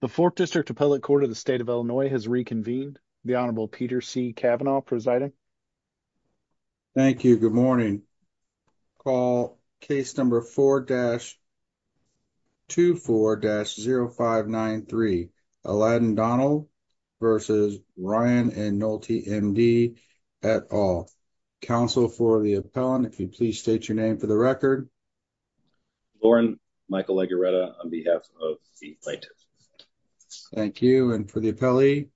the fourth district appellate court of the state of illinois has reconvened the honorable peter c cavanaugh presiding thank you good morning call case number four dash two four dash zero five nine three aladdin donnell versus ryan and nolte md at all counsel for the appellant if you please state your name for the record lauren michael lagaretta on behalf of the plaintiff thank you and for the appellee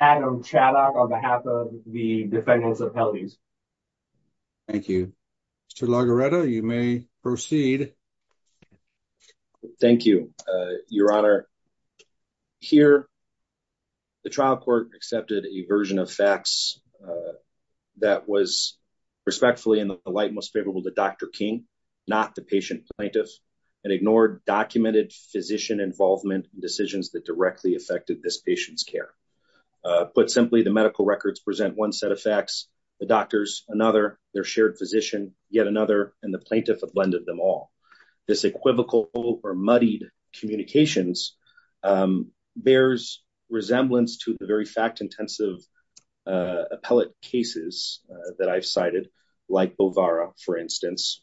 adam chaddock on behalf of the defendants appellees thank you mr lagaretta you may proceed thank you uh your honor here the trial court accepted a version of facts uh that was respectfully in the light most favorable to dr king not the patient plaintiff and ignored documented physician involvement decisions that directly affected this patient's care uh put simply the medical records present one set of facts the doctors another their shared physician yet another and the plaintiff have blended them all this equivocal or muddied communications um bears resemblance to the very fact intensive uh appellate cases that i've cited like bovara for instance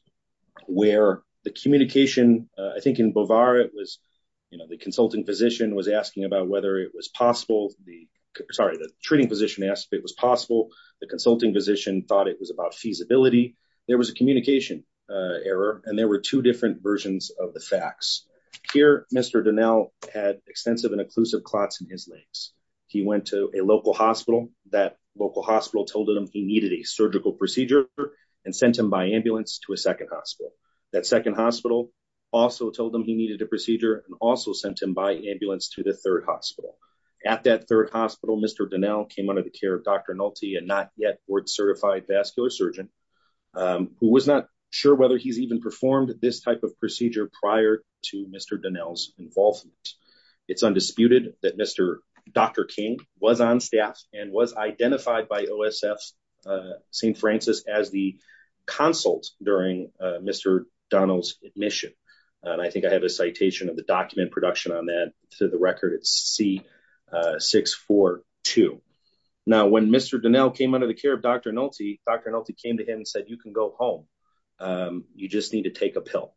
where the communication i think in bovara it was you know the consulting physician was asking about whether it was possible the sorry the treating position asked if it was possible the consulting physician thought it was about feasibility there was a communication uh and there were two different versions of the facts here mr donnell had extensive and inclusive clots in his legs he went to a local hospital that local hospital told him he needed a surgical procedure and sent him by ambulance to a second hospital that second hospital also told him he needed a procedure and also sent him by ambulance to the third hospital at that third hospital mr donnell came under the care of dr nulty and not yet board certified vascular surgeon um who was sure whether he's even performed this type of procedure prior to mr donnell's involvement it's undisputed that mr dr king was on staff and was identified by osf uh st francis as the consult during uh mr donnell's admission and i think i have a citation of the document production on that to the record it's c642 now when mr donnell came under the care of dr nulty dr nulty came to him and said you can go home um you just need to take a pill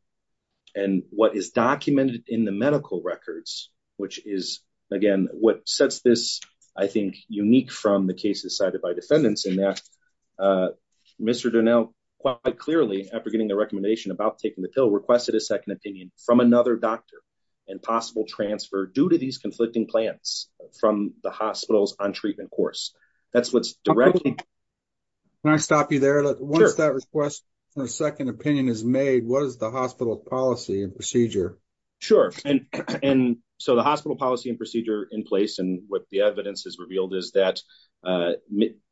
and what is documented in the medical records which is again what sets this i think unique from the cases cited by defendants in that uh mr donnell quite clearly after getting the recommendation about taking the pill requested a second opinion from another doctor and possible transfer due to these conflicting plans from the on treatment course that's what's directly can i stop you there once that request for a second opinion is made what is the hospital policy and procedure sure and and so the hospital policy and procedure in place and what the evidence has revealed is that uh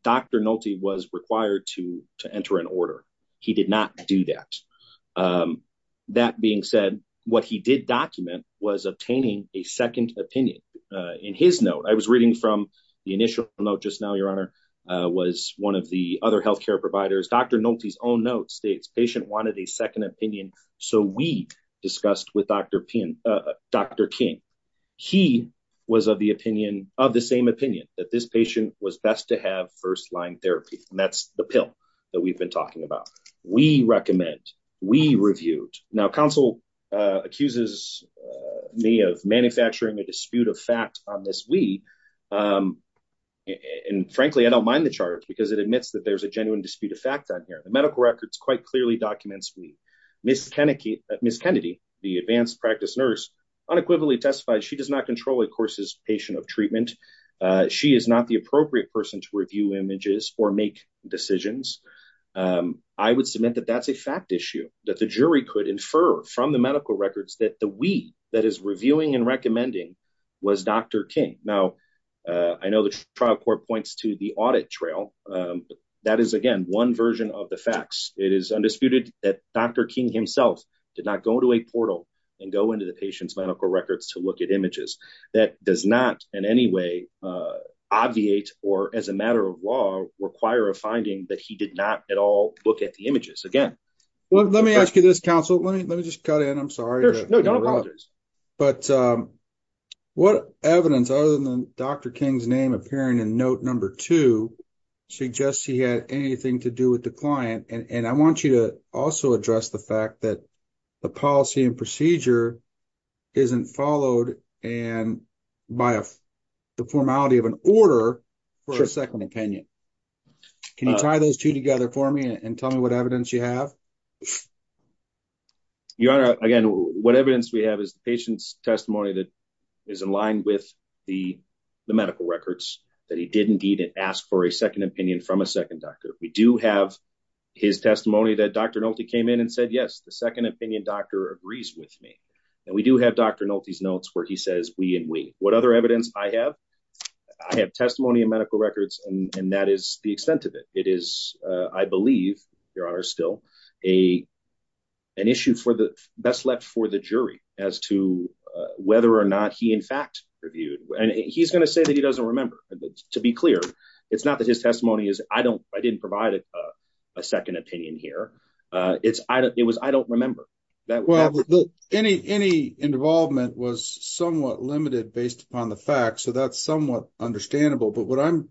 dr nulty was required to to enter an order he did not do that um that being said what he did document was obtaining a second opinion uh in his note i was reading from the initial note just now your honor uh was one of the other health care providers dr nulty's own notes states patient wanted a second opinion so we discussed with dr pin uh dr king he was of the opinion of the same opinion that this patient was best to have first-line therapy and that's the pill that we've been talking about we recommend we reviewed now council uh accuses me of manufacturing a dispute of fact on this we um and frankly i don't mind the charge because it admits that there's a genuine dispute of fact on here the medical records quite clearly documents we miss kennicky miss kennedy the advanced practice nurse unequivocally testified she does not control a course's patient of treatment uh she is not the appropriate person to review images or make decisions um i would submit that that's a fact issue that the jury could infer from the medical records that the we that is reviewing and recommending was dr king now uh i know the trial court points to the audit trail um that is again one version of the facts it is undisputed that dr king himself did not go to a portal and go into the patient's medical records to look at images that does not in any way uh obviate or as a matter of law require a finding that he did not at all look at the again well let me ask you this council let me let me just cut in i'm sorry no no but um what evidence other than dr king's name appearing in note number two suggests he had anything to do with the client and and i want you to also address the fact that the policy and procedure isn't followed and by a the formality of an order for a second opinion can you tie those two together for me and tell me what evidence you have your honor again what evidence we have is the patient's testimony that is in line with the the medical records that he did indeed ask for a second opinion from a second doctor we do have his testimony that dr nolte came in and said yes the second opinion doctor agrees with me and we do have dr nolte's notes where he says we and we what other evidence i have i have testimony in medical records and and that is the extent of it it is uh i believe your honor still a an issue for the best left for the jury as to uh whether or not he in fact reviewed and he's going to say that he doesn't remember to be clear it's not that his testimony is i don't i didn't provide a second opinion here uh it's i don't it was i don't remember that well any any involvement was somewhat limited based upon the fact so that's somewhat understandable but what i'm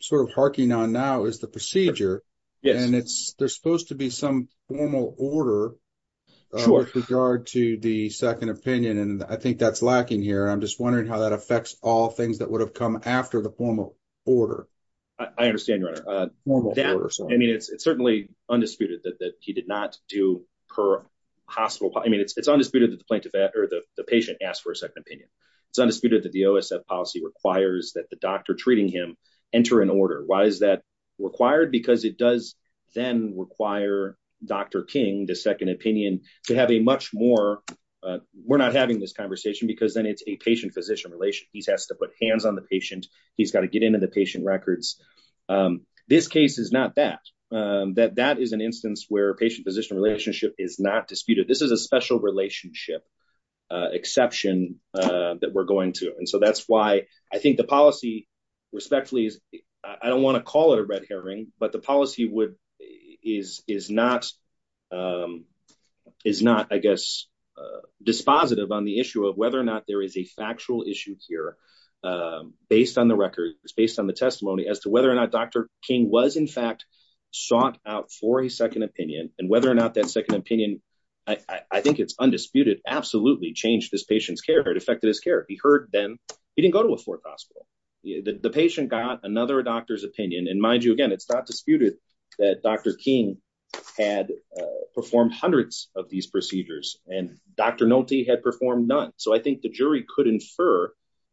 sort of harking on now is the procedure yes and it's they're supposed to be some formal order with regard to the second opinion and i think that's lacking here i'm just wondering how that affects all things that would have come after the formal order i understand that i mean it's certainly undisputed that that he did not do per hospital i mean it's it's undisputed that the plaintiff or the patient asked for a second opinion it's undisputed that the osf policy requires that the doctor treating him enter an order why is that required because it does then require dr king the second opinion to have a much more uh we're not having this conversation because then it's a patient physician relation he has to put hands on the patient he's got to get into the patient records this case is not that that that is an instance where patient position relationship is not disputed this is a special relationship uh exception uh that we're going to and so that's why i think the policy respectfully is i don't want to call it a red herring but the policy would is is not um is not i guess uh dispositive on the issue of whether or not there is a factual issue here um based on the record it's based on the testimony as to whether or not dr king was in fact sought out for a second opinion and whether or not that second opinion i i think it's undisputed absolutely changed this patient's care it affected his care he heard then he didn't go to a fourth hospital the patient got another doctor's opinion and mind you again it's not disputed that dr king had performed hundreds of these procedures and dr nolte had performed none so i think the jury could infer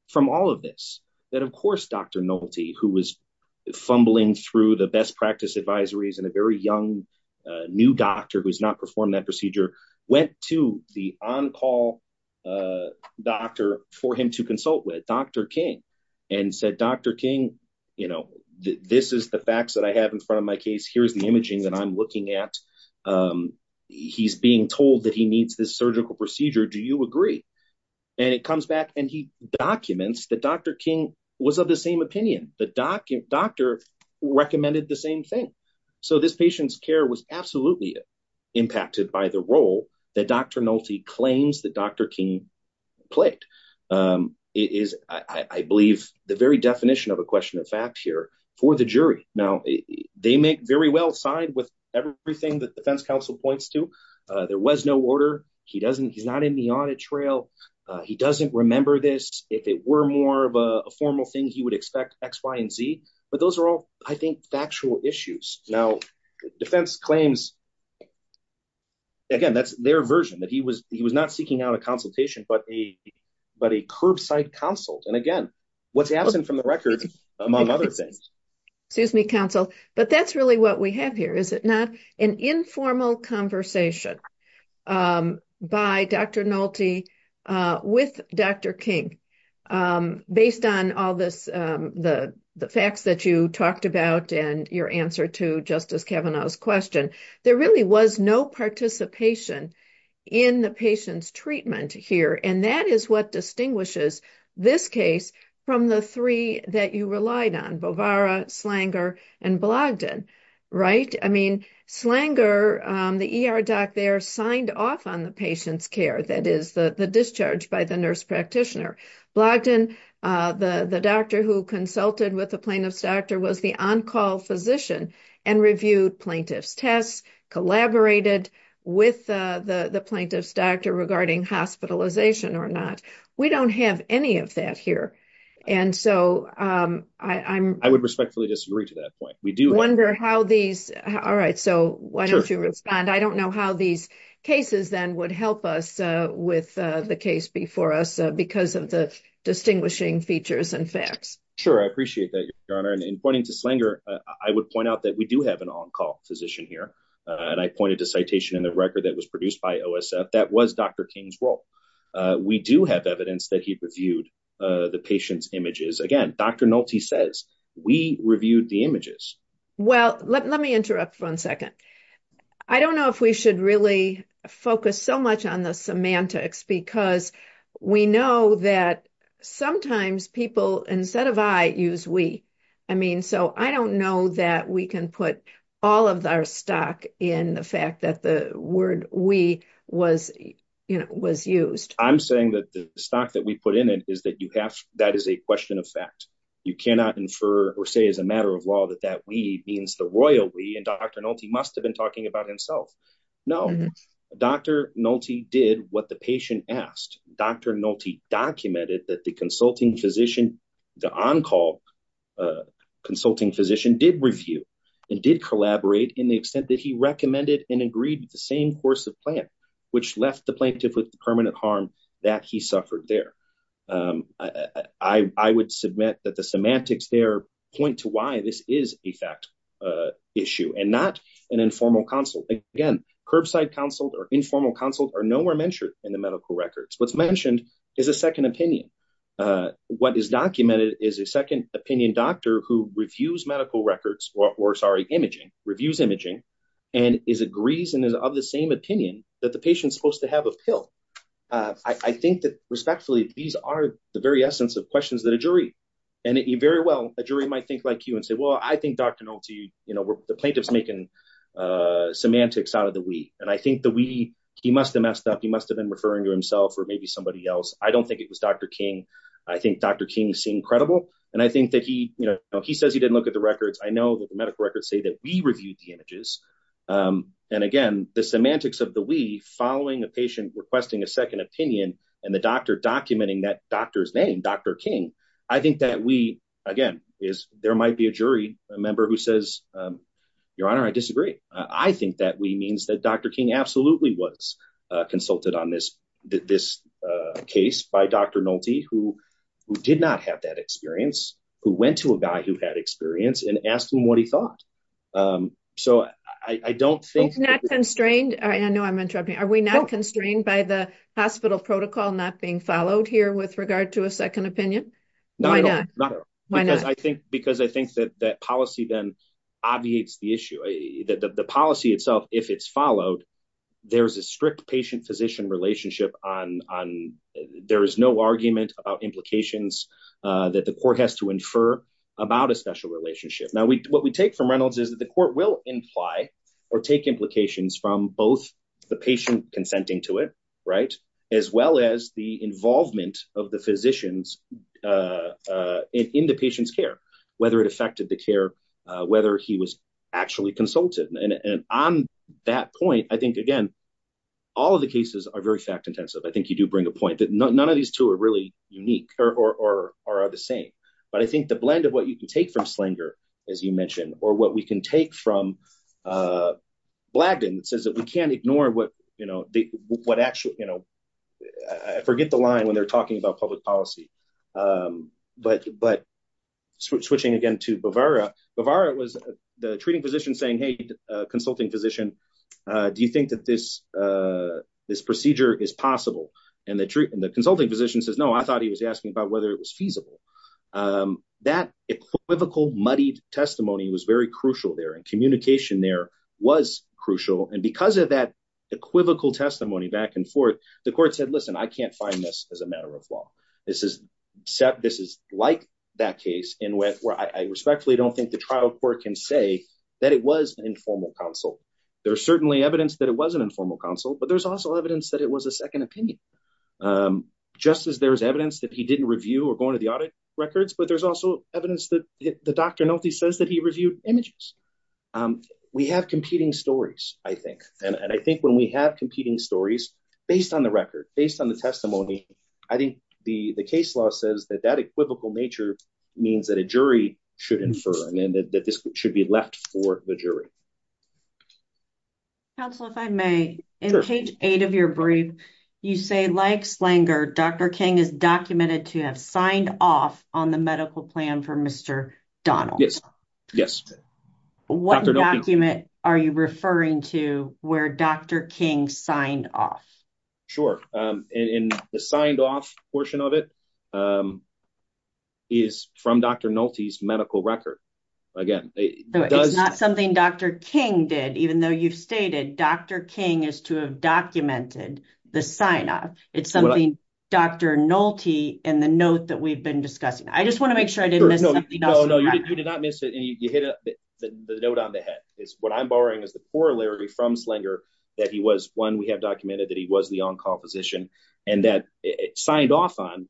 from all of this that of course dr nolte who was fumbling through the best practice advisories and a very young new doctor who's not performed that procedure went to the on-call uh doctor for him to consult with dr king and said dr king you know this is the facts that i have in front of my case here's the imaging that i'm looking at um he's being told that he needs this surgical procedure do you agree and it comes back and he documents that dr king was of the same opinion the doctor recommended the same thing so this patient's care was absolutely impacted by the role that dr nolte claims that dr king played um it is i i believe the very definition of a question of fact here for the jury now they make very well side with everything that defense counsel points to uh there was no order he doesn't he's not in the audit trail uh he doesn't remember this if it were more of a formal thing he would expect x y and z but those are all i think factual issues now defense claims again that's their version that he was he was not seeking out a consultation but a but a curbside consult and what's absent from the record among other things excuse me counsel but that's really what we have here is it not an informal conversation um by dr nolte uh with dr king um based on all this um the the facts that you talked about and your answer to justice kavanaugh's question there really was no participation in the patient's treatment here and that is what distinguishes this case from the three that you relied on bovara slanger and blogged in right i mean slanger um the er doc there signed off on the patient's care that is the the discharge by the nurse practitioner blogged in uh the the doctor who consulted with the plaintiff's doctor was the on-call physician and reviewed plaintiff's tests collaborated with uh the the plaintiff's doctor regarding hospitalization or not we don't have any of that here and so um i i'm i would respectfully disagree to that point we do wonder how these all right so why don't you respond i don't know how these cases then would help us uh with uh the case before us because of the distinguishing features and facts sure i in pointing to slanger i would point out that we do have an on-call physician here and i pointed to citation in the record that was produced by osf that was dr king's role we do have evidence that he reviewed uh the patient's images again dr nolte says we reviewed the images well let me interrupt for one second i don't know if we should really focus so much on because we know that sometimes people instead of i use we i mean so i don't know that we can put all of our stock in the fact that the word we was you know was used i'm saying that the stock that we put in it is that you have that is a question of fact you cannot infer or say as a matter of law that that we means the royal we and dr nolte must have been talking about himself no dr nolte did what the patient asked dr nolte documented that the consulting physician the on-call consulting physician did review and did collaborate in the extent that he recommended and agreed with the same course of plan which left the plaintiff with permanent harm that he suffered there um i i would submit that the semantics there point to why this is a fact uh issue and not an informal consult again curbside consult or informal consult are nowhere mentioned in the medical records what's mentioned is a second opinion uh what is documented is a second opinion doctor who reviews medical records or sorry imaging reviews imaging and is agrees and is of the same opinion that the patient's supposed to have a pill uh i think that respectfully these are the very essence of questions that a jury and it very well a jury might think like you and say well i think dr nolte you know the plaintiff's making uh semantics out of the we and i think the we he must have messed up he must have been referring to himself or maybe somebody else i don't think it was dr king i think dr king seemed credible and i think that he you know he says he didn't look at the records i know that the medical records say that we reviewed the images um and again the semantics of the we following a patient requesting a second opinion and the doctor documenting that doctor's name dr king i think that we again is there might be a jury a member who says um your honor i disagree i think that we means that dr king absolutely was uh consulted on this this uh case by dr nolte who who did not have that experience who went to a guy who had experience and asked him what he thought um so i i don't think not constrained all right i know are we not constrained by the hospital protocol not being followed here with regard to a second opinion no why not because i think because i think that that policy then obviates the issue that the policy itself if it's followed there's a strict patient physician relationship on on there is no argument about implications uh that the court has to infer about a special relationship now we what we take from reynolds is that the court will imply or take implications from both the patient consenting to it right as well as the involvement of the physicians uh uh in the patient's care whether it affected the care whether he was actually consulted and on that point i think again all of the cases are very fact intensive i think you do bring a point that none of these two are really unique or or are the same but i think the blend of what you can from slinger as you mentioned or what we can take from uh blagdon that says that we can't ignore what you know what actually you know i forget the line when they're talking about public policy um but but switching again to bavara bavara was the treating physician saying hey consulting physician uh do you think that this uh this procedure is possible and the truth and the consulting physician says no i thought he was asking about whether it was feasible um that equivocal muddied testimony was very crucial there and communication there was crucial and because of that equivocal testimony back and forth the court said listen i can't find this as a matter of law this is set this is like that case in which where i respectfully don't think the trial court can say that it was an informal counsel there's certainly evidence that it was an informal counsel but there's also evidence that it was a second opinion um just as there's evidence that he didn't review or go into the audit records but there's also evidence that the doctor nothing says that he reviewed images um we have competing stories i think and i think when we have competing stories based on the record based on the testimony i think the the case law says that that equivocal nature means that a jury should infer and that this should be left for the jury counsel if i may in page eight of your brief you say like slanger dr king is documented to have signed off on the medical plan for mr donald yes yes what document are you referring to where dr king signed off sure um in the signed off portion of it um is from dr nolte's medical record again it's not something dr king did even though you've stated dr king is to have documented the sign-off it's something dr nolte in the note that we've been discussing i just want to make sure i didn't know no you did not miss it and you hit the note on the head is what i'm borrowing is the corollary from slinger that he was one we have documented that he was the on-call position and that it signed off on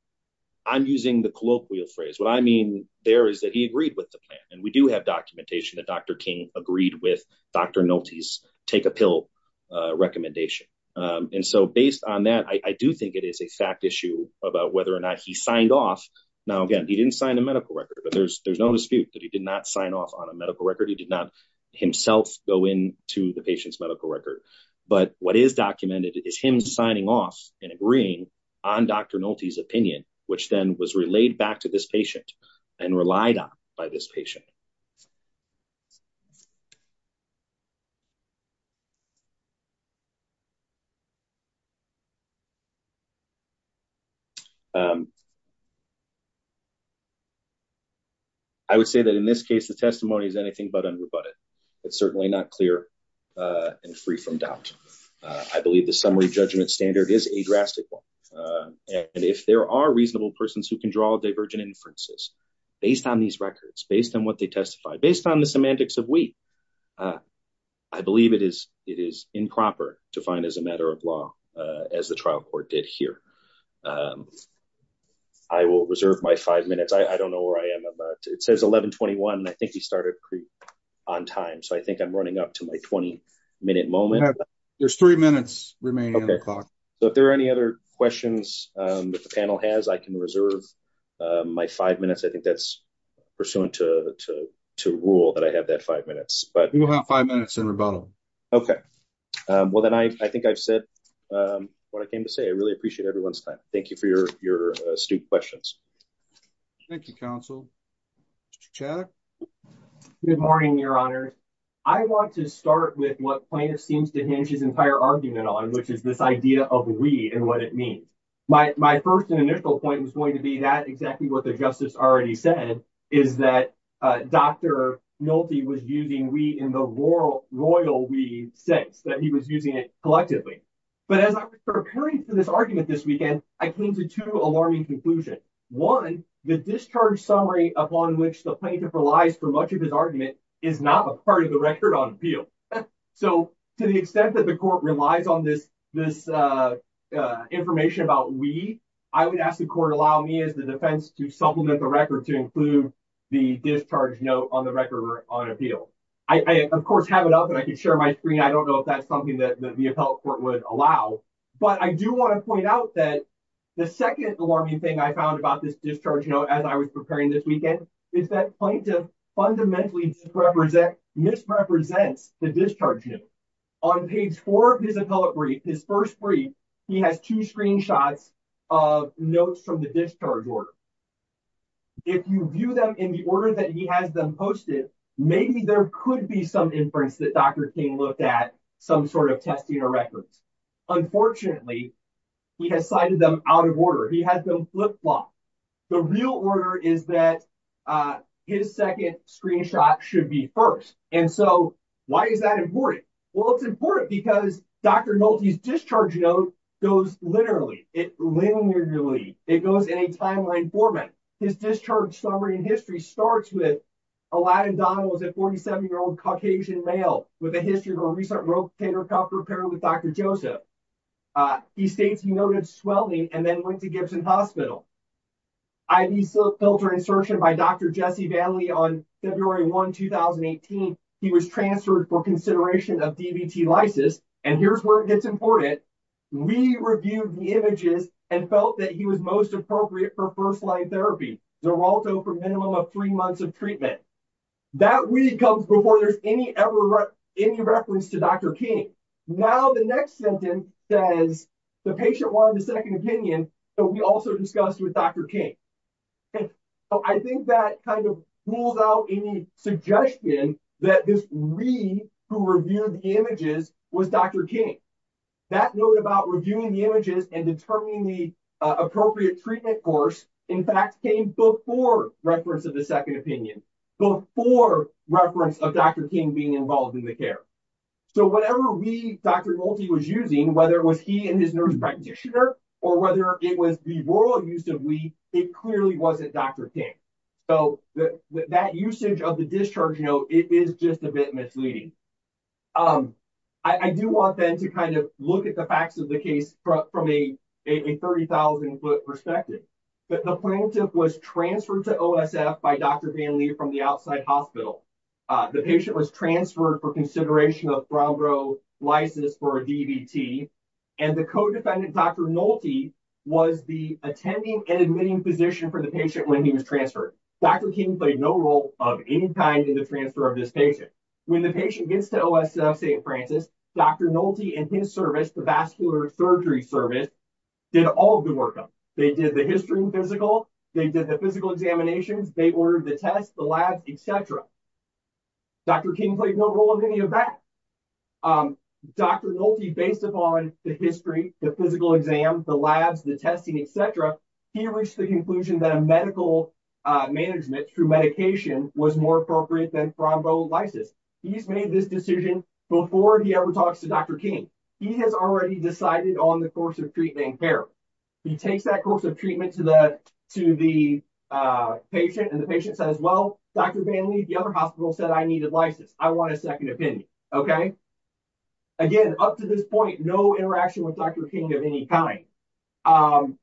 i'm using the colloquial phrase what i mean there is that he agreed with the plan and we do have documentation that dr king agreed with dr nolte's take a pill uh recommendation um and so based on that i i do think it is a fact issue about whether or not he signed off now again he didn't sign a medical record but there's there's no dispute that he did not sign off on a medical record he did not himself go in to the patient's medical record but what is documented is him signing off and agreeing on dr nolte's opinion which then was relayed back to this patient and relied on by this patient i would say that in this case the testimony is anything but unrebutted it's certainly not clear and free from doubt i believe the summary judgment standard is a drastic one and if there are reasonable persons who can draw divergent inferences based on these records based on what they testify based on the semantics of wheat uh i believe it is it is improper to find as a matter of law uh as the trial court did here um i will reserve my five minutes i don't know where i am about it says 11 21 and i think he started pre on time so i think i'm running up to my 20 minute moment there's three minutes remaining o'clock so if there are any other questions um that the can reserve um my five minutes i think that's pursuant to to to rule that i have that five minutes but we will have five minutes in rebuttal okay um well then i i think i've said um what i came to say i really appreciate everyone's time thank you for your your astute questions thank you counsel chad good morning your honor i want to start with what plaintiff seems to hinge on which is this idea of we and what it means my my first and initial point was going to be that exactly what the justice already said is that uh dr nolte was using we in the royal royal we sense that he was using it collectively but as i'm preparing for this argument this weekend i came to two alarming conclusions one the discharge summary upon which the plaintiff relies for much of his is not a part of the record on appeal so to the extent that the court relies on this this uh uh information about we i would ask the court allow me as the defense to supplement the record to include the discharge note on the record on appeal i of course have it up and i can share my screen i don't know if that's something that the appellate court would allow but i do want to point out that the second alarming thing i found about this discharge note as i was preparing this weekend is that plaintiff fundamentally represent misrepresents the discharge note on page four of his appellate brief his first brief he has two screenshots of notes from the discharge order if you view them in the order that he has them posted maybe there could be some inference that dr king looked at some sort of testing or records unfortunately he has cited them out of order he has them flip-flopped the real order is that uh his second screenshot should be first and so why is that important well it's important because dr nolte's discharge note goes literally it linearly it goes in a timeline format his discharge summary in history starts with aladdin donald was a 47 year old caucasian male with a history of a recent rotator cuff repair with dr joseph uh he states he noted swelling and then went to gibson hospital ivy filter insertion by dr jesse vanley on february 1 2018 he was transferred for consideration of dbt lysis and here's where it gets important we reviewed the images and felt that he was most appropriate for first-line therapy naralto for minimum of three months of treatment that weed comes before there's any ever any reference to dr king now the next sentence says the patient wanted the second opinion but we also discussed with dr king i think that kind of pulls out any suggestion that this weed who reviewed the images was dr king that note about reviewing the images and determining the appropriate treatment course in fact came before reference of the second opinion before reference of dr king being involved in the care so whatever weed dr nolte was using whether it was he and his nurse practitioner or whether it was the rural use of weed it clearly wasn't dr king so that usage of the discharge note it is just a bit misleading um i do want then to kind of look at the facts of from a 30 000 foot perspective but the plaintiff was transferred to osf by dr vanley from the outside hospital uh the patient was transferred for consideration of bronco lysis for a dbt and the co-defendant dr nolte was the attending and admitting physician for the patient when he was transferred dr king played no role of any kind in the transfer of this patient when the gets to osf st francis dr nolte and his service the vascular surgery service did all the work up they did the history physical they did the physical examinations they ordered the test the labs etc dr king played no role of any of that um dr nolte based upon the history the physical exam the labs the testing etc he reached the conclusion that a medical uh management through medication was more appropriate than franco lysis he's made this decision before he ever talks to dr king he has already decided on the course of treatment care he takes that course of treatment to the to the uh patient and the patient says well dr vanley the other hospital said i needed license i want a second opinion okay again up to this point no interaction with any kind um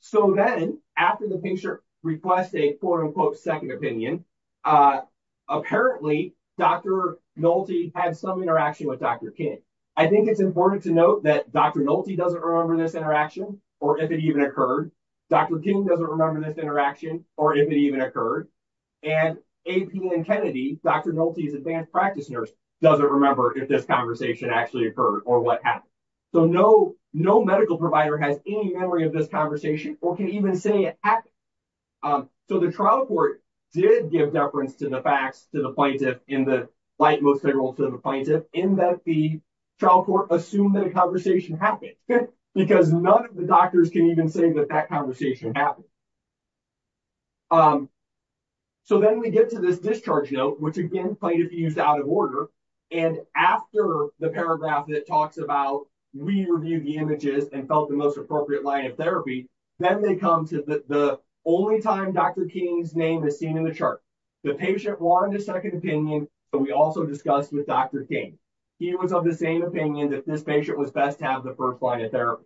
so then after the patient requests a quote-unquote second opinion uh apparently dr nolte had some interaction with dr king i think it's important to note that dr nolte doesn't remember this interaction or if it even occurred dr king doesn't remember this interaction or if it even occurred and ap and kennedy dr nolte's advanced practice nurse doesn't remember if this conversation actually occurred or what happened so no no medical provider has any memory of this conversation or can even say it happened um so the trial court did give deference to the facts to the plaintiff in the light most favorable to the plaintiff in that the trial court assumed that a conversation happened because none of the doctors can even say that that conversation happened um so then we get to this discharge note which again plaintiff used out of order and after the paragraph that talks about we reviewed the images and felt the most appropriate line of therapy then they come to the only time dr king's name is seen in the chart the patient wanted a second opinion but we also discussed with dr king he was of the same opinion that this patient was best to have the first line of therapy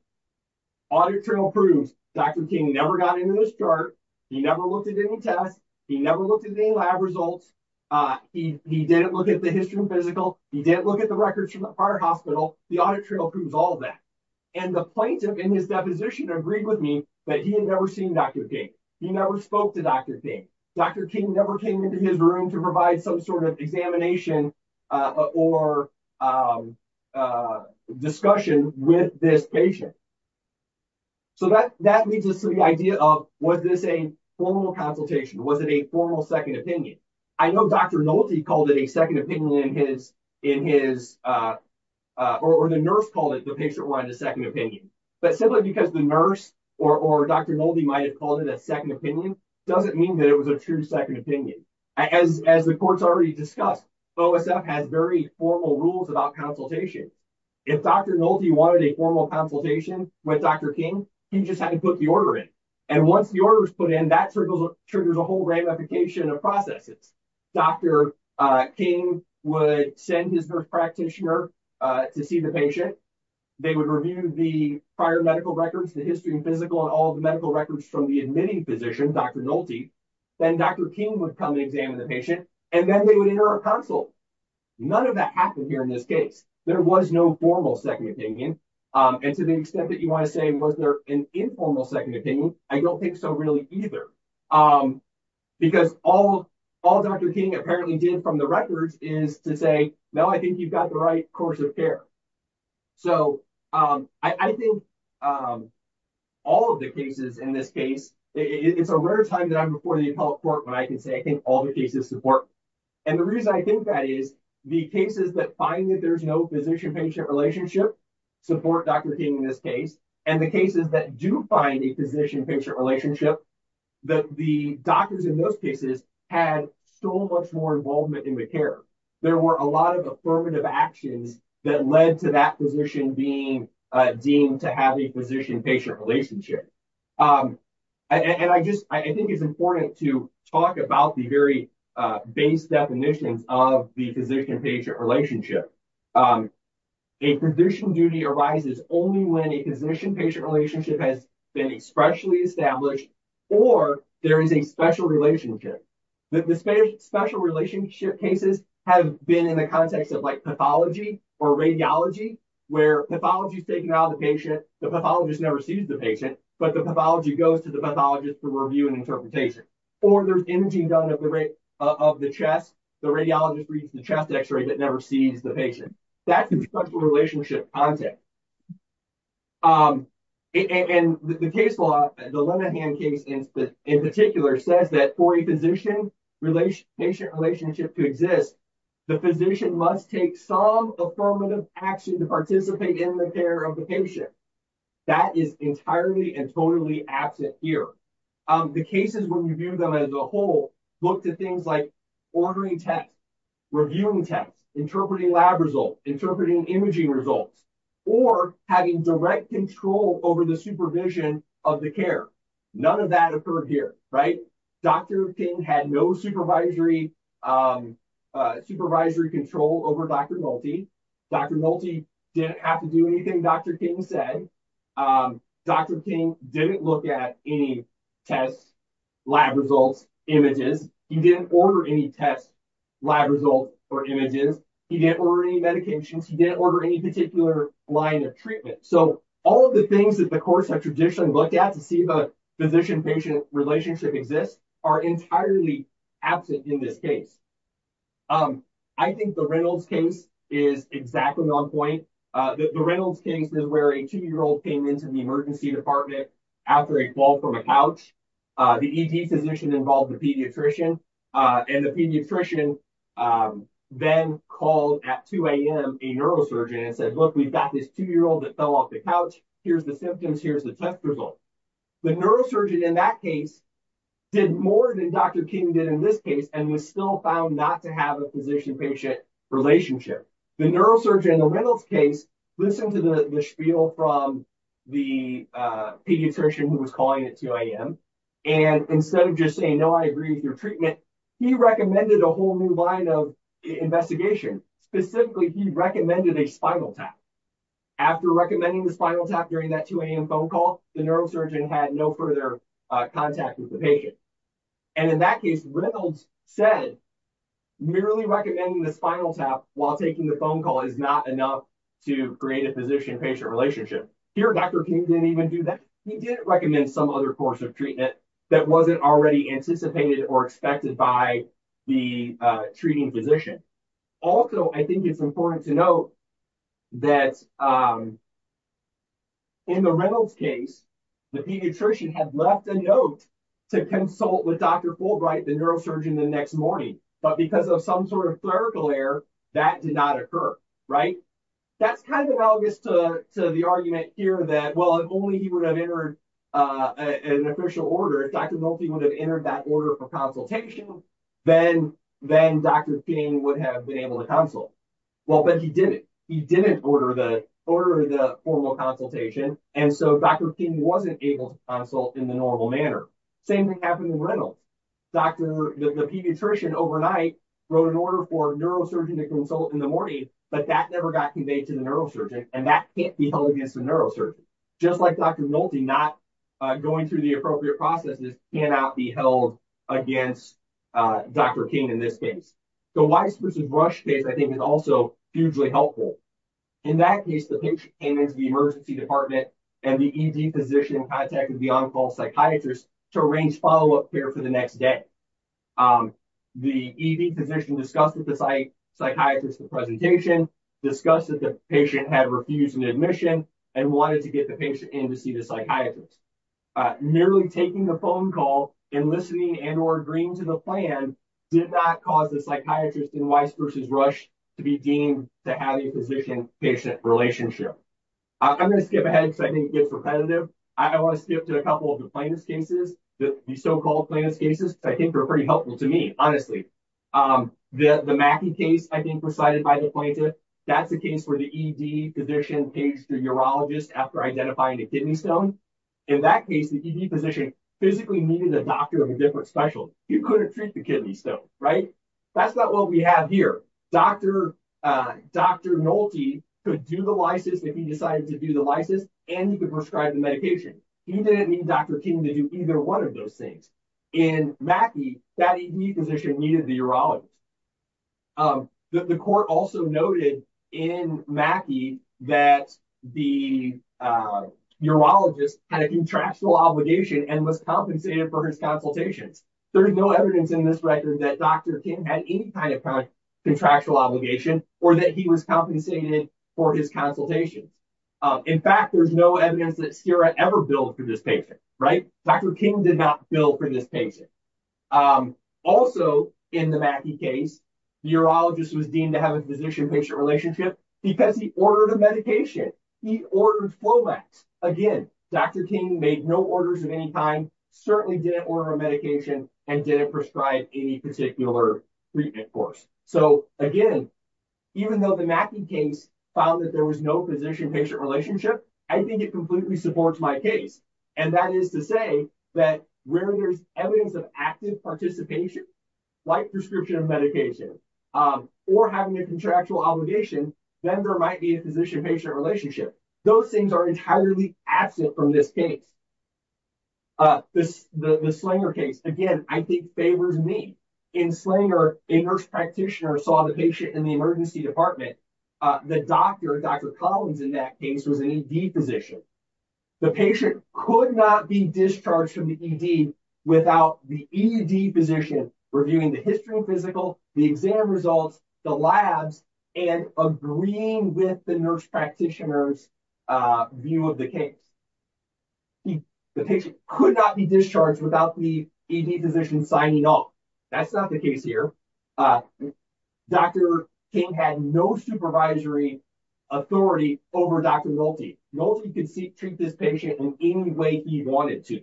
audit trail proves dr king never got into this chart he never looked at any tests he never looked at any lab results uh he he didn't look at the history and physical he didn't look at the records from the heart hospital the audit trail proves all that and the plaintiff in his deposition agreed with me that he had never seen dr king he never spoke to dr king dr king never came into his room to provide some sort of examination or um uh discussion with this patient so that that leads us to the idea of was this a formal consultation was it a formal second opinion i know dr nolte called it a second opinion in his in his uh uh or the nurse called it the patient wanted a second opinion but simply because the nurse or or dr nolte might have called it a second opinion doesn't mean that it was a true second opinion as as the court's already discussed osf has very formal rules about consultation if dr nolte wanted a formal consultation with dr king he just had to put the order in and once the put in that triggers a whole ramification of processes dr uh king would send his nurse practitioner uh to see the patient they would review the prior medical records the history and physical and all the medical records from the admitting physician dr nolte then dr king would come and examine the patient and then they would enter a consult none of that happened here in this case there was no formal second opinion um and to the extent that you want to say was there an informal second opinion i don't think so really either um because all all dr king apparently did from the records is to say no i think you've got the right course of care so um i think um all of the cases in this case it's a rare time that i'm before the appellate court when i can say i think all the cases support and the reason i think that is the cases that find that there's physician patient relationship support dr king in this case and the cases that do find a physician patient relationship that the doctors in those cases had so much more involvement in the care there were a lot of affirmative actions that led to that position being uh deemed to have a physician patient relationship um and i just i think it's important to talk about the very uh base definitions of the physician patient relationship um a position duty arises only when a physician patient relationship has been expressly established or there is a special relationship the special relationship cases have been in the context of like pathology or radiology where pathology is taken out of the patient the pathologist never sees the patient but the pathology goes to the pathologist to review and interpretation or there's imaging done of the chest the radiologist reads the chest x-ray that never sees the patient that's the structural relationship context um and the case law the lenahan case in particular says that for a physician relation patient relationship to exist the physician must take some affirmative action to participate in the care of the patient that is entirely and totally absent here um the cases when you view them as a whole look to things like ordering tests reviewing tests interpreting lab results interpreting imaging results or having direct control over the supervision of the care none of that occurred here right dr king had no supervisory um uh supervisory control over dr nolte dr nolte didn't have to do anything dr king said um dr king didn't look at any tests lab results images he didn't order any tests lab results or images he didn't order any medications he didn't order any particular line of treatment so all of the things that the courts have traditionally looked at to see the physician patient relationship exist are entirely absent in this case um i think the reynolds case is exactly on point uh the reynolds case is where a two-year-old came into the emergency department after a fall from a couch uh the ed physician involved the pediatrician uh and the pediatrician um then called at 2 a.m a neurosurgeon and said look we've got this two-year-old that fell off the couch here's the symptoms here's the test result the neurosurgeon in that case did more than dr king did in this case and was still found not to have a physician patient relationship the neurosurgeon the reynolds case listened to the the spiel from the uh pediatrician who was calling at 2 a.m and instead of just saying no i agree with your treatment he recommended a whole new line of investigation specifically he recommended a spinal tap after recommending the spinal tap during that 2 a.m phone call the neurosurgeon had no further uh contact with the patient and in that case reynolds said merely recommending the spinal tap while taking the phone call is not enough to create a physician patient relationship here dr king didn't even do that he didn't recommend some other course of treatment that wasn't already anticipated or expected by the uh treating physician also i think it's important to note that um in the reynolds case the pediatrician had left a note to consult with dr fulbright the neurosurgeon the next morning but because of some sort of clerical error that did not occur right that's kind of analogous to to the argument here that well if only he would have entered uh an official order dr milky would have entered that order for consultation then then dr king would have been able to consult well but he didn't he didn't order the order the formal consultation and so dr king wasn't able to consult in the normal manner same thing happened in reynolds dr the pediatrician overnight wrote an order for neurosurgeon to consult in the morning but that never got conveyed to the neurosurgeon and that can't be held against the neurosurgeon just like dr nolte not uh going through the appropriate processes cannot be held against uh dr king in this case the widespread brush case i think is also hugely helpful in that case the patient came into the emergency department and the ed physician contacted the on-call psychiatrist to arrange follow-up care for the next day um the ed physician discussed with the psych psychiatrist the presentation discussed that the patient had refused an admission and wanted to get the patient in to see the psychiatrist uh merely taking a phone call and listening and or agreeing to the plan did not cause the psychiatrist in Weisbruch's rush to be deemed to have a physician patient relationship i'm going to skip ahead because i think it's repetitive i want to skip to a couple of the plaintiff's cases the so-called plaintiff's cases i think are pretty helpful to me honestly um the the mackie case i think presided by the plaintiff that's the case where the ed physician paged the urologist after identifying the kidney stone in that case the ed physician physically needed a doctor of a different special you couldn't treat the kidney stone right that's not what we have here dr uh dr nolte could do the lysis if he decided to do the lysis and he could prescribe the medication he didn't need dr king to do either one of those things in mackie that ed physician needed the urologist um the court also noted in mackie that the uh urologist had a contractual obligation and was compensated for his consultations there is no evidence in this record that dr king had any kind of contractual obligation or that he was compensated for his consultations in fact there's no evidence that sera ever billed for this patient right dr king did not bill for this patient um also in the mackie case the urologist was deemed to have a physician patient relationship because he ordered medication he ordered flomax again dr king made no orders at any time certainly didn't order a medication and didn't prescribe any particular treatment course so again even though the mackie case found that there was no physician patient relationship i think it completely supports my case and that is to say that where there's evidence of active participation like prescription medication um or having a contractual obligation then there might be a physician patient relationship those things are entirely absent from this case uh this the the slinger case again i think favors me in slinger a nurse practitioner saw the patient in the emergency department uh the doctor dr collins in that case was an ed physician the patient could not be discharged from the ed without the ed position reviewing the history of physical the exam results the labs and agreeing with the nurse practitioners uh view of the case the patient could not be discharged without the ed physician signing off that's not the case here uh dr king had no supervisory authority over dr nolte nolte could seek treat this patient in any way he wanted to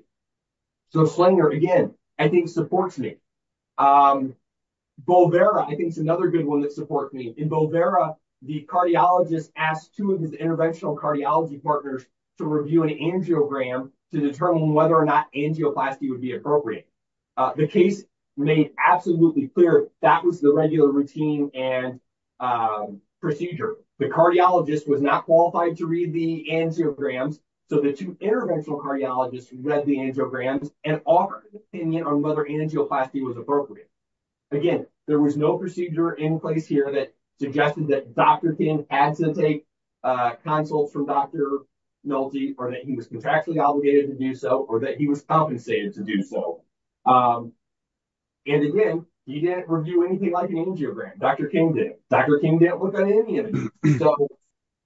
so slinger again i think supports me um bolvera i think it's another good one that supports me in bolvera the cardiologist asked two of his interventional cardiology partners to review an angiogram to determine whether or not angioplasty would be appropriate uh the case made absolutely clear that was the regular routine and um procedure the cardiologist was not qualified to read the angiograms so the two interventional cardiologists read the angiograms and offered an opinion on whether angioplasty was appropriate again there was no procedure in place here that suggested that dr king had to take uh consults from dr nolte or that he was contractually obligated to do so or that he was compensated to do so um and again he didn't review anything like an angiogram dr king did dr king didn't look at any of these so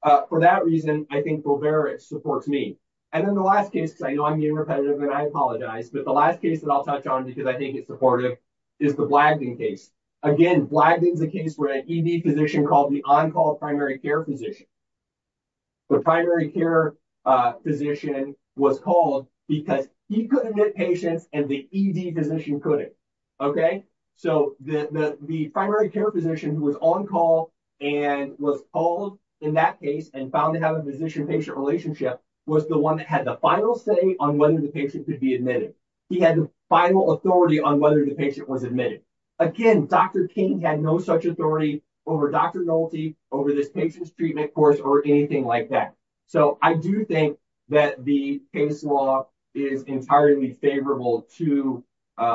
uh for that reason i think bolvera it supports me and then the last case because i know i'm being repetitive and i apologize but the last case that i'll touch on because i think it's supportive is the blagdon case again blagdon is a case where an ed physician called the on-call primary care physician the primary care uh physician was called because he couldn't admit patients and the ed physician couldn't okay so the the primary care physician who was on call and was called in that case and found to have a physician patient relationship was the one that had the final say on whether the patient could be admitted he had the final authority on whether the patient was admitted again dr king had no such authority over dr nolte over this patient's treatment course or anything like that so i do think that the case law is entirely favorable to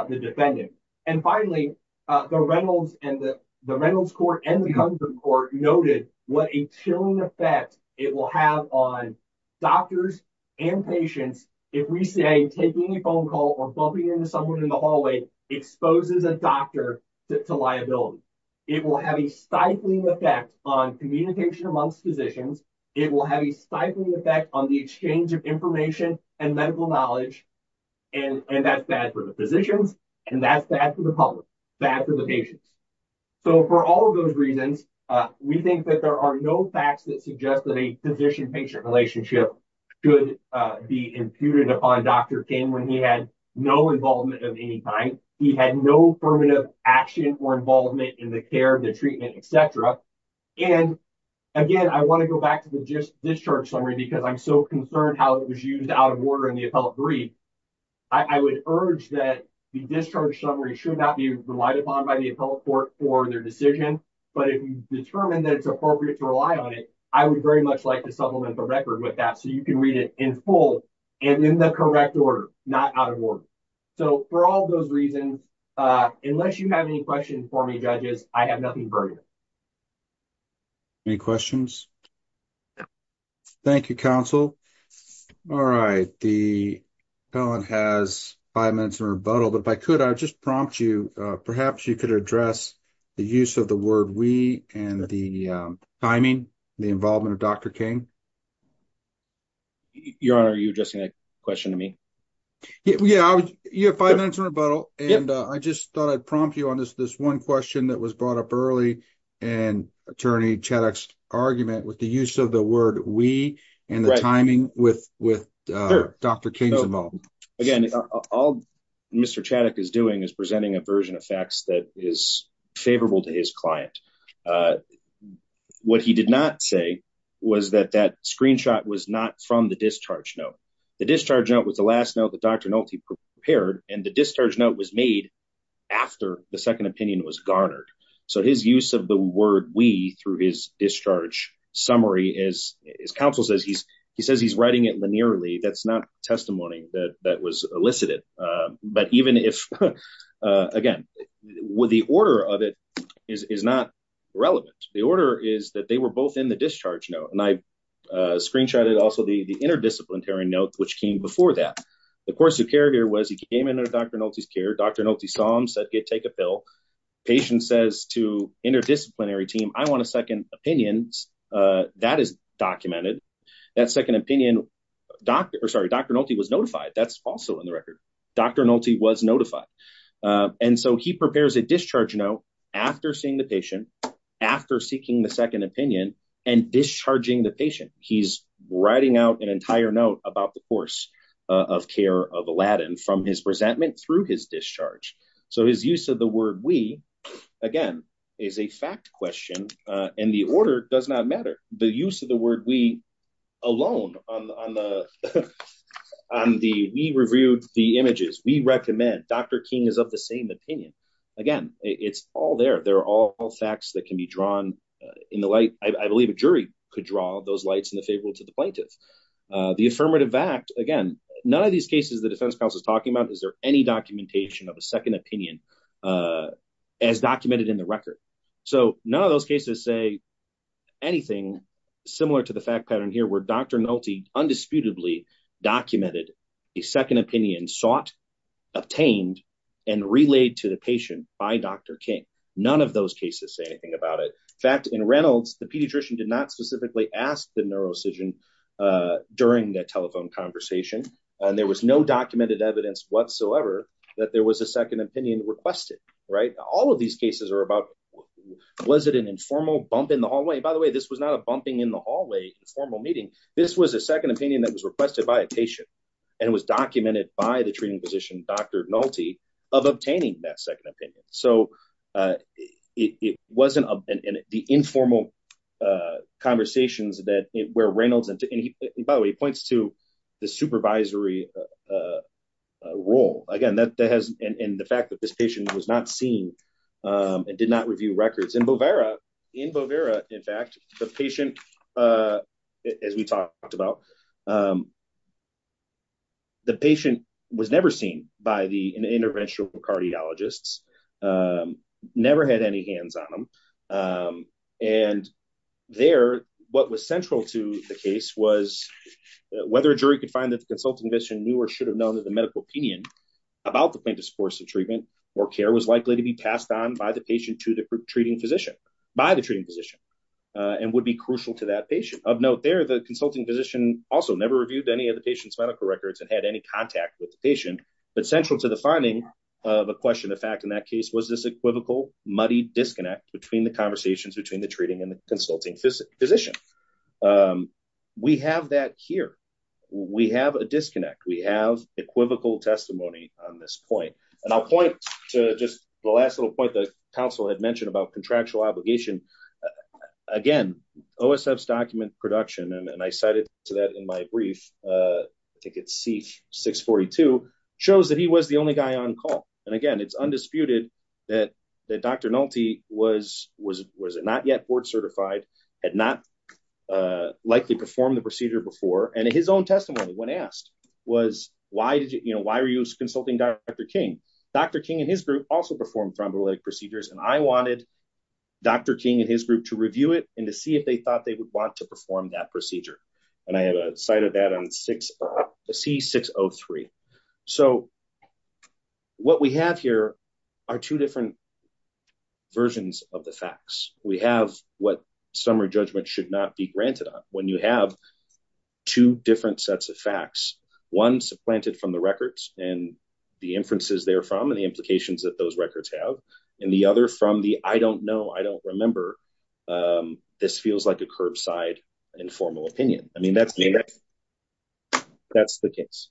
the defendant and finally uh the reynolds and the reynolds court and the comfort court noted what a chilling effect it will have on doctors and patients if we say taking a phone call or bumping into someone in the hallway exposes a doctor to liability it will have a stifling effect on communication amongst physicians it will have a stifling effect on the exchange of information and medical knowledge and and that's bad for the physicians and that's bad for the public bad for the patients so for all of those reasons uh we think that there are no facts that suggest that a physician patient relationship could uh be imputed upon dr king when he had no involvement of any kind he had no affirmative action or involvement in the care the treatment etc and again i want to go back to the discharge summary because i'm so concerned how it was used out of order in the appellate brief i would urge that the discharge summary should not be relied upon by the appellate court for their decision but if you determine that it's appropriate to rely on it i would very much like to supplement the record with that so you can read it in full and in the correct order not out of order so for those reasons uh unless you have any questions for me judges i have nothing for you any questions thank you counsel all right the felon has five minutes in rebuttal but if i could i would just prompt you uh perhaps you could address the use of the word we and the timing the involvement of dr king your honor are you addressing that question to me yeah you have five minutes in rebuttal and i just thought i'd prompt you on this this one question that was brought up early and attorney chaddock's argument with the use of the word we and the timing with with uh dr king's involved again all mr chaddock is doing is presenting a version of facts that is favorable to his client uh what he did not say was that that screenshot was not from the discharge note the discharge note was the last note that dr nulty prepared and the discharge note was made after the second opinion was garnered so his use of the word we through his discharge summary is his counsel says he's he says he's writing it linearly that's not testimony that that was elicited um but even if uh again the order of it is is not relevant the order is that they were both in the discharge note and i uh screenshotted also the the interdisciplinary note which came before that the course of care here was he came into dr nulty's care dr nulty saw him said get take a pill patient says to interdisciplinary team i want a second opinions uh that is documented that second opinion doctor sorry dr nulty was notified that's also in the record dr nulty was notified and so he prepares a discharge note after seeing the patient after seeking the second opinion and discharging the patient he's writing out an entire note about the course of care of aladdin from his resentment through his discharge so his use of the word we again is a fact question uh and the order does not matter the use of the word we alone on on the on the we reviewed the images we recommend dr king is of the same opinion again it's all there there are all facts that can be drawn in the light i believe a jury could draw those lights in the favor to the plaintiff uh the affirmative act again none of these cases the defense is talking about is there any documentation of a second opinion uh as documented in the record so none of those cases say anything similar to the fact pattern here where dr nulty undisputedly documented a second opinion sought obtained and relayed to the patient by dr king none of those cases say anything about it in fact in reynolds the pediatrician did not specifically ask the evidence whatsoever that there was a second opinion requested right all of these cases are about was it an informal bump in the hallway by the way this was not a bumping in the hallway informal meeting this was a second opinion that was requested by a patient and was documented by the treating physician dr nulty of obtaining that second opinion so uh it wasn't a and the informal uh conversations that where reynolds and by the way he points to the supervisory role again that that has and the fact that this patient was not seen and did not review records in bovera in bovera in fact the patient uh as we talked about um the patient was never seen by the interventional cardiologists um never had any hands on them um and there what was central to the case was whether a jury could find that the consulting vision knew or should have known that the medical opinion about the plaintiff's course of treatment or care was likely to be passed on by the patient to the treating physician by the treating physician and would be crucial to that patient of note there the consulting physician also never reviewed any of the patient's medical records and had any contact with the patient but central to the finding of a question the fact in that case was this equivocal muddy disconnect between the treating and the consulting physician um we have that here we have a disconnect we have equivocal testimony on this point and i'll point to just the last little point the council had mentioned about contractual obligation again osf's document production and i cited to that in my brief uh i think it's c642 shows that he was the only guy on call and again it's undisputed that that dr nulty was was was it not yet board certified had not uh likely performed the procedure before and his own testimony when asked was why did you know why were you consulting dr king dr king and his group also performed thrombolytic procedures and i wanted dr king and his group to review it and to see if they thought they would want to perform that procedure and i have a site of that c603 so what we have here are two different versions of the facts we have what summary judgment should not be granted on when you have two different sets of facts one supplanted from the records and the inferences there from and the implications that those records have and the other from the i don't know i don't remember um this feels like a curbside informal opinion i mean that's me that's the case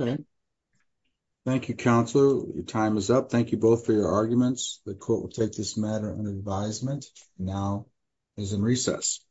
okay thank you counselor your time is up thank you both for your arguments the court will take this matter under advisement now is in recess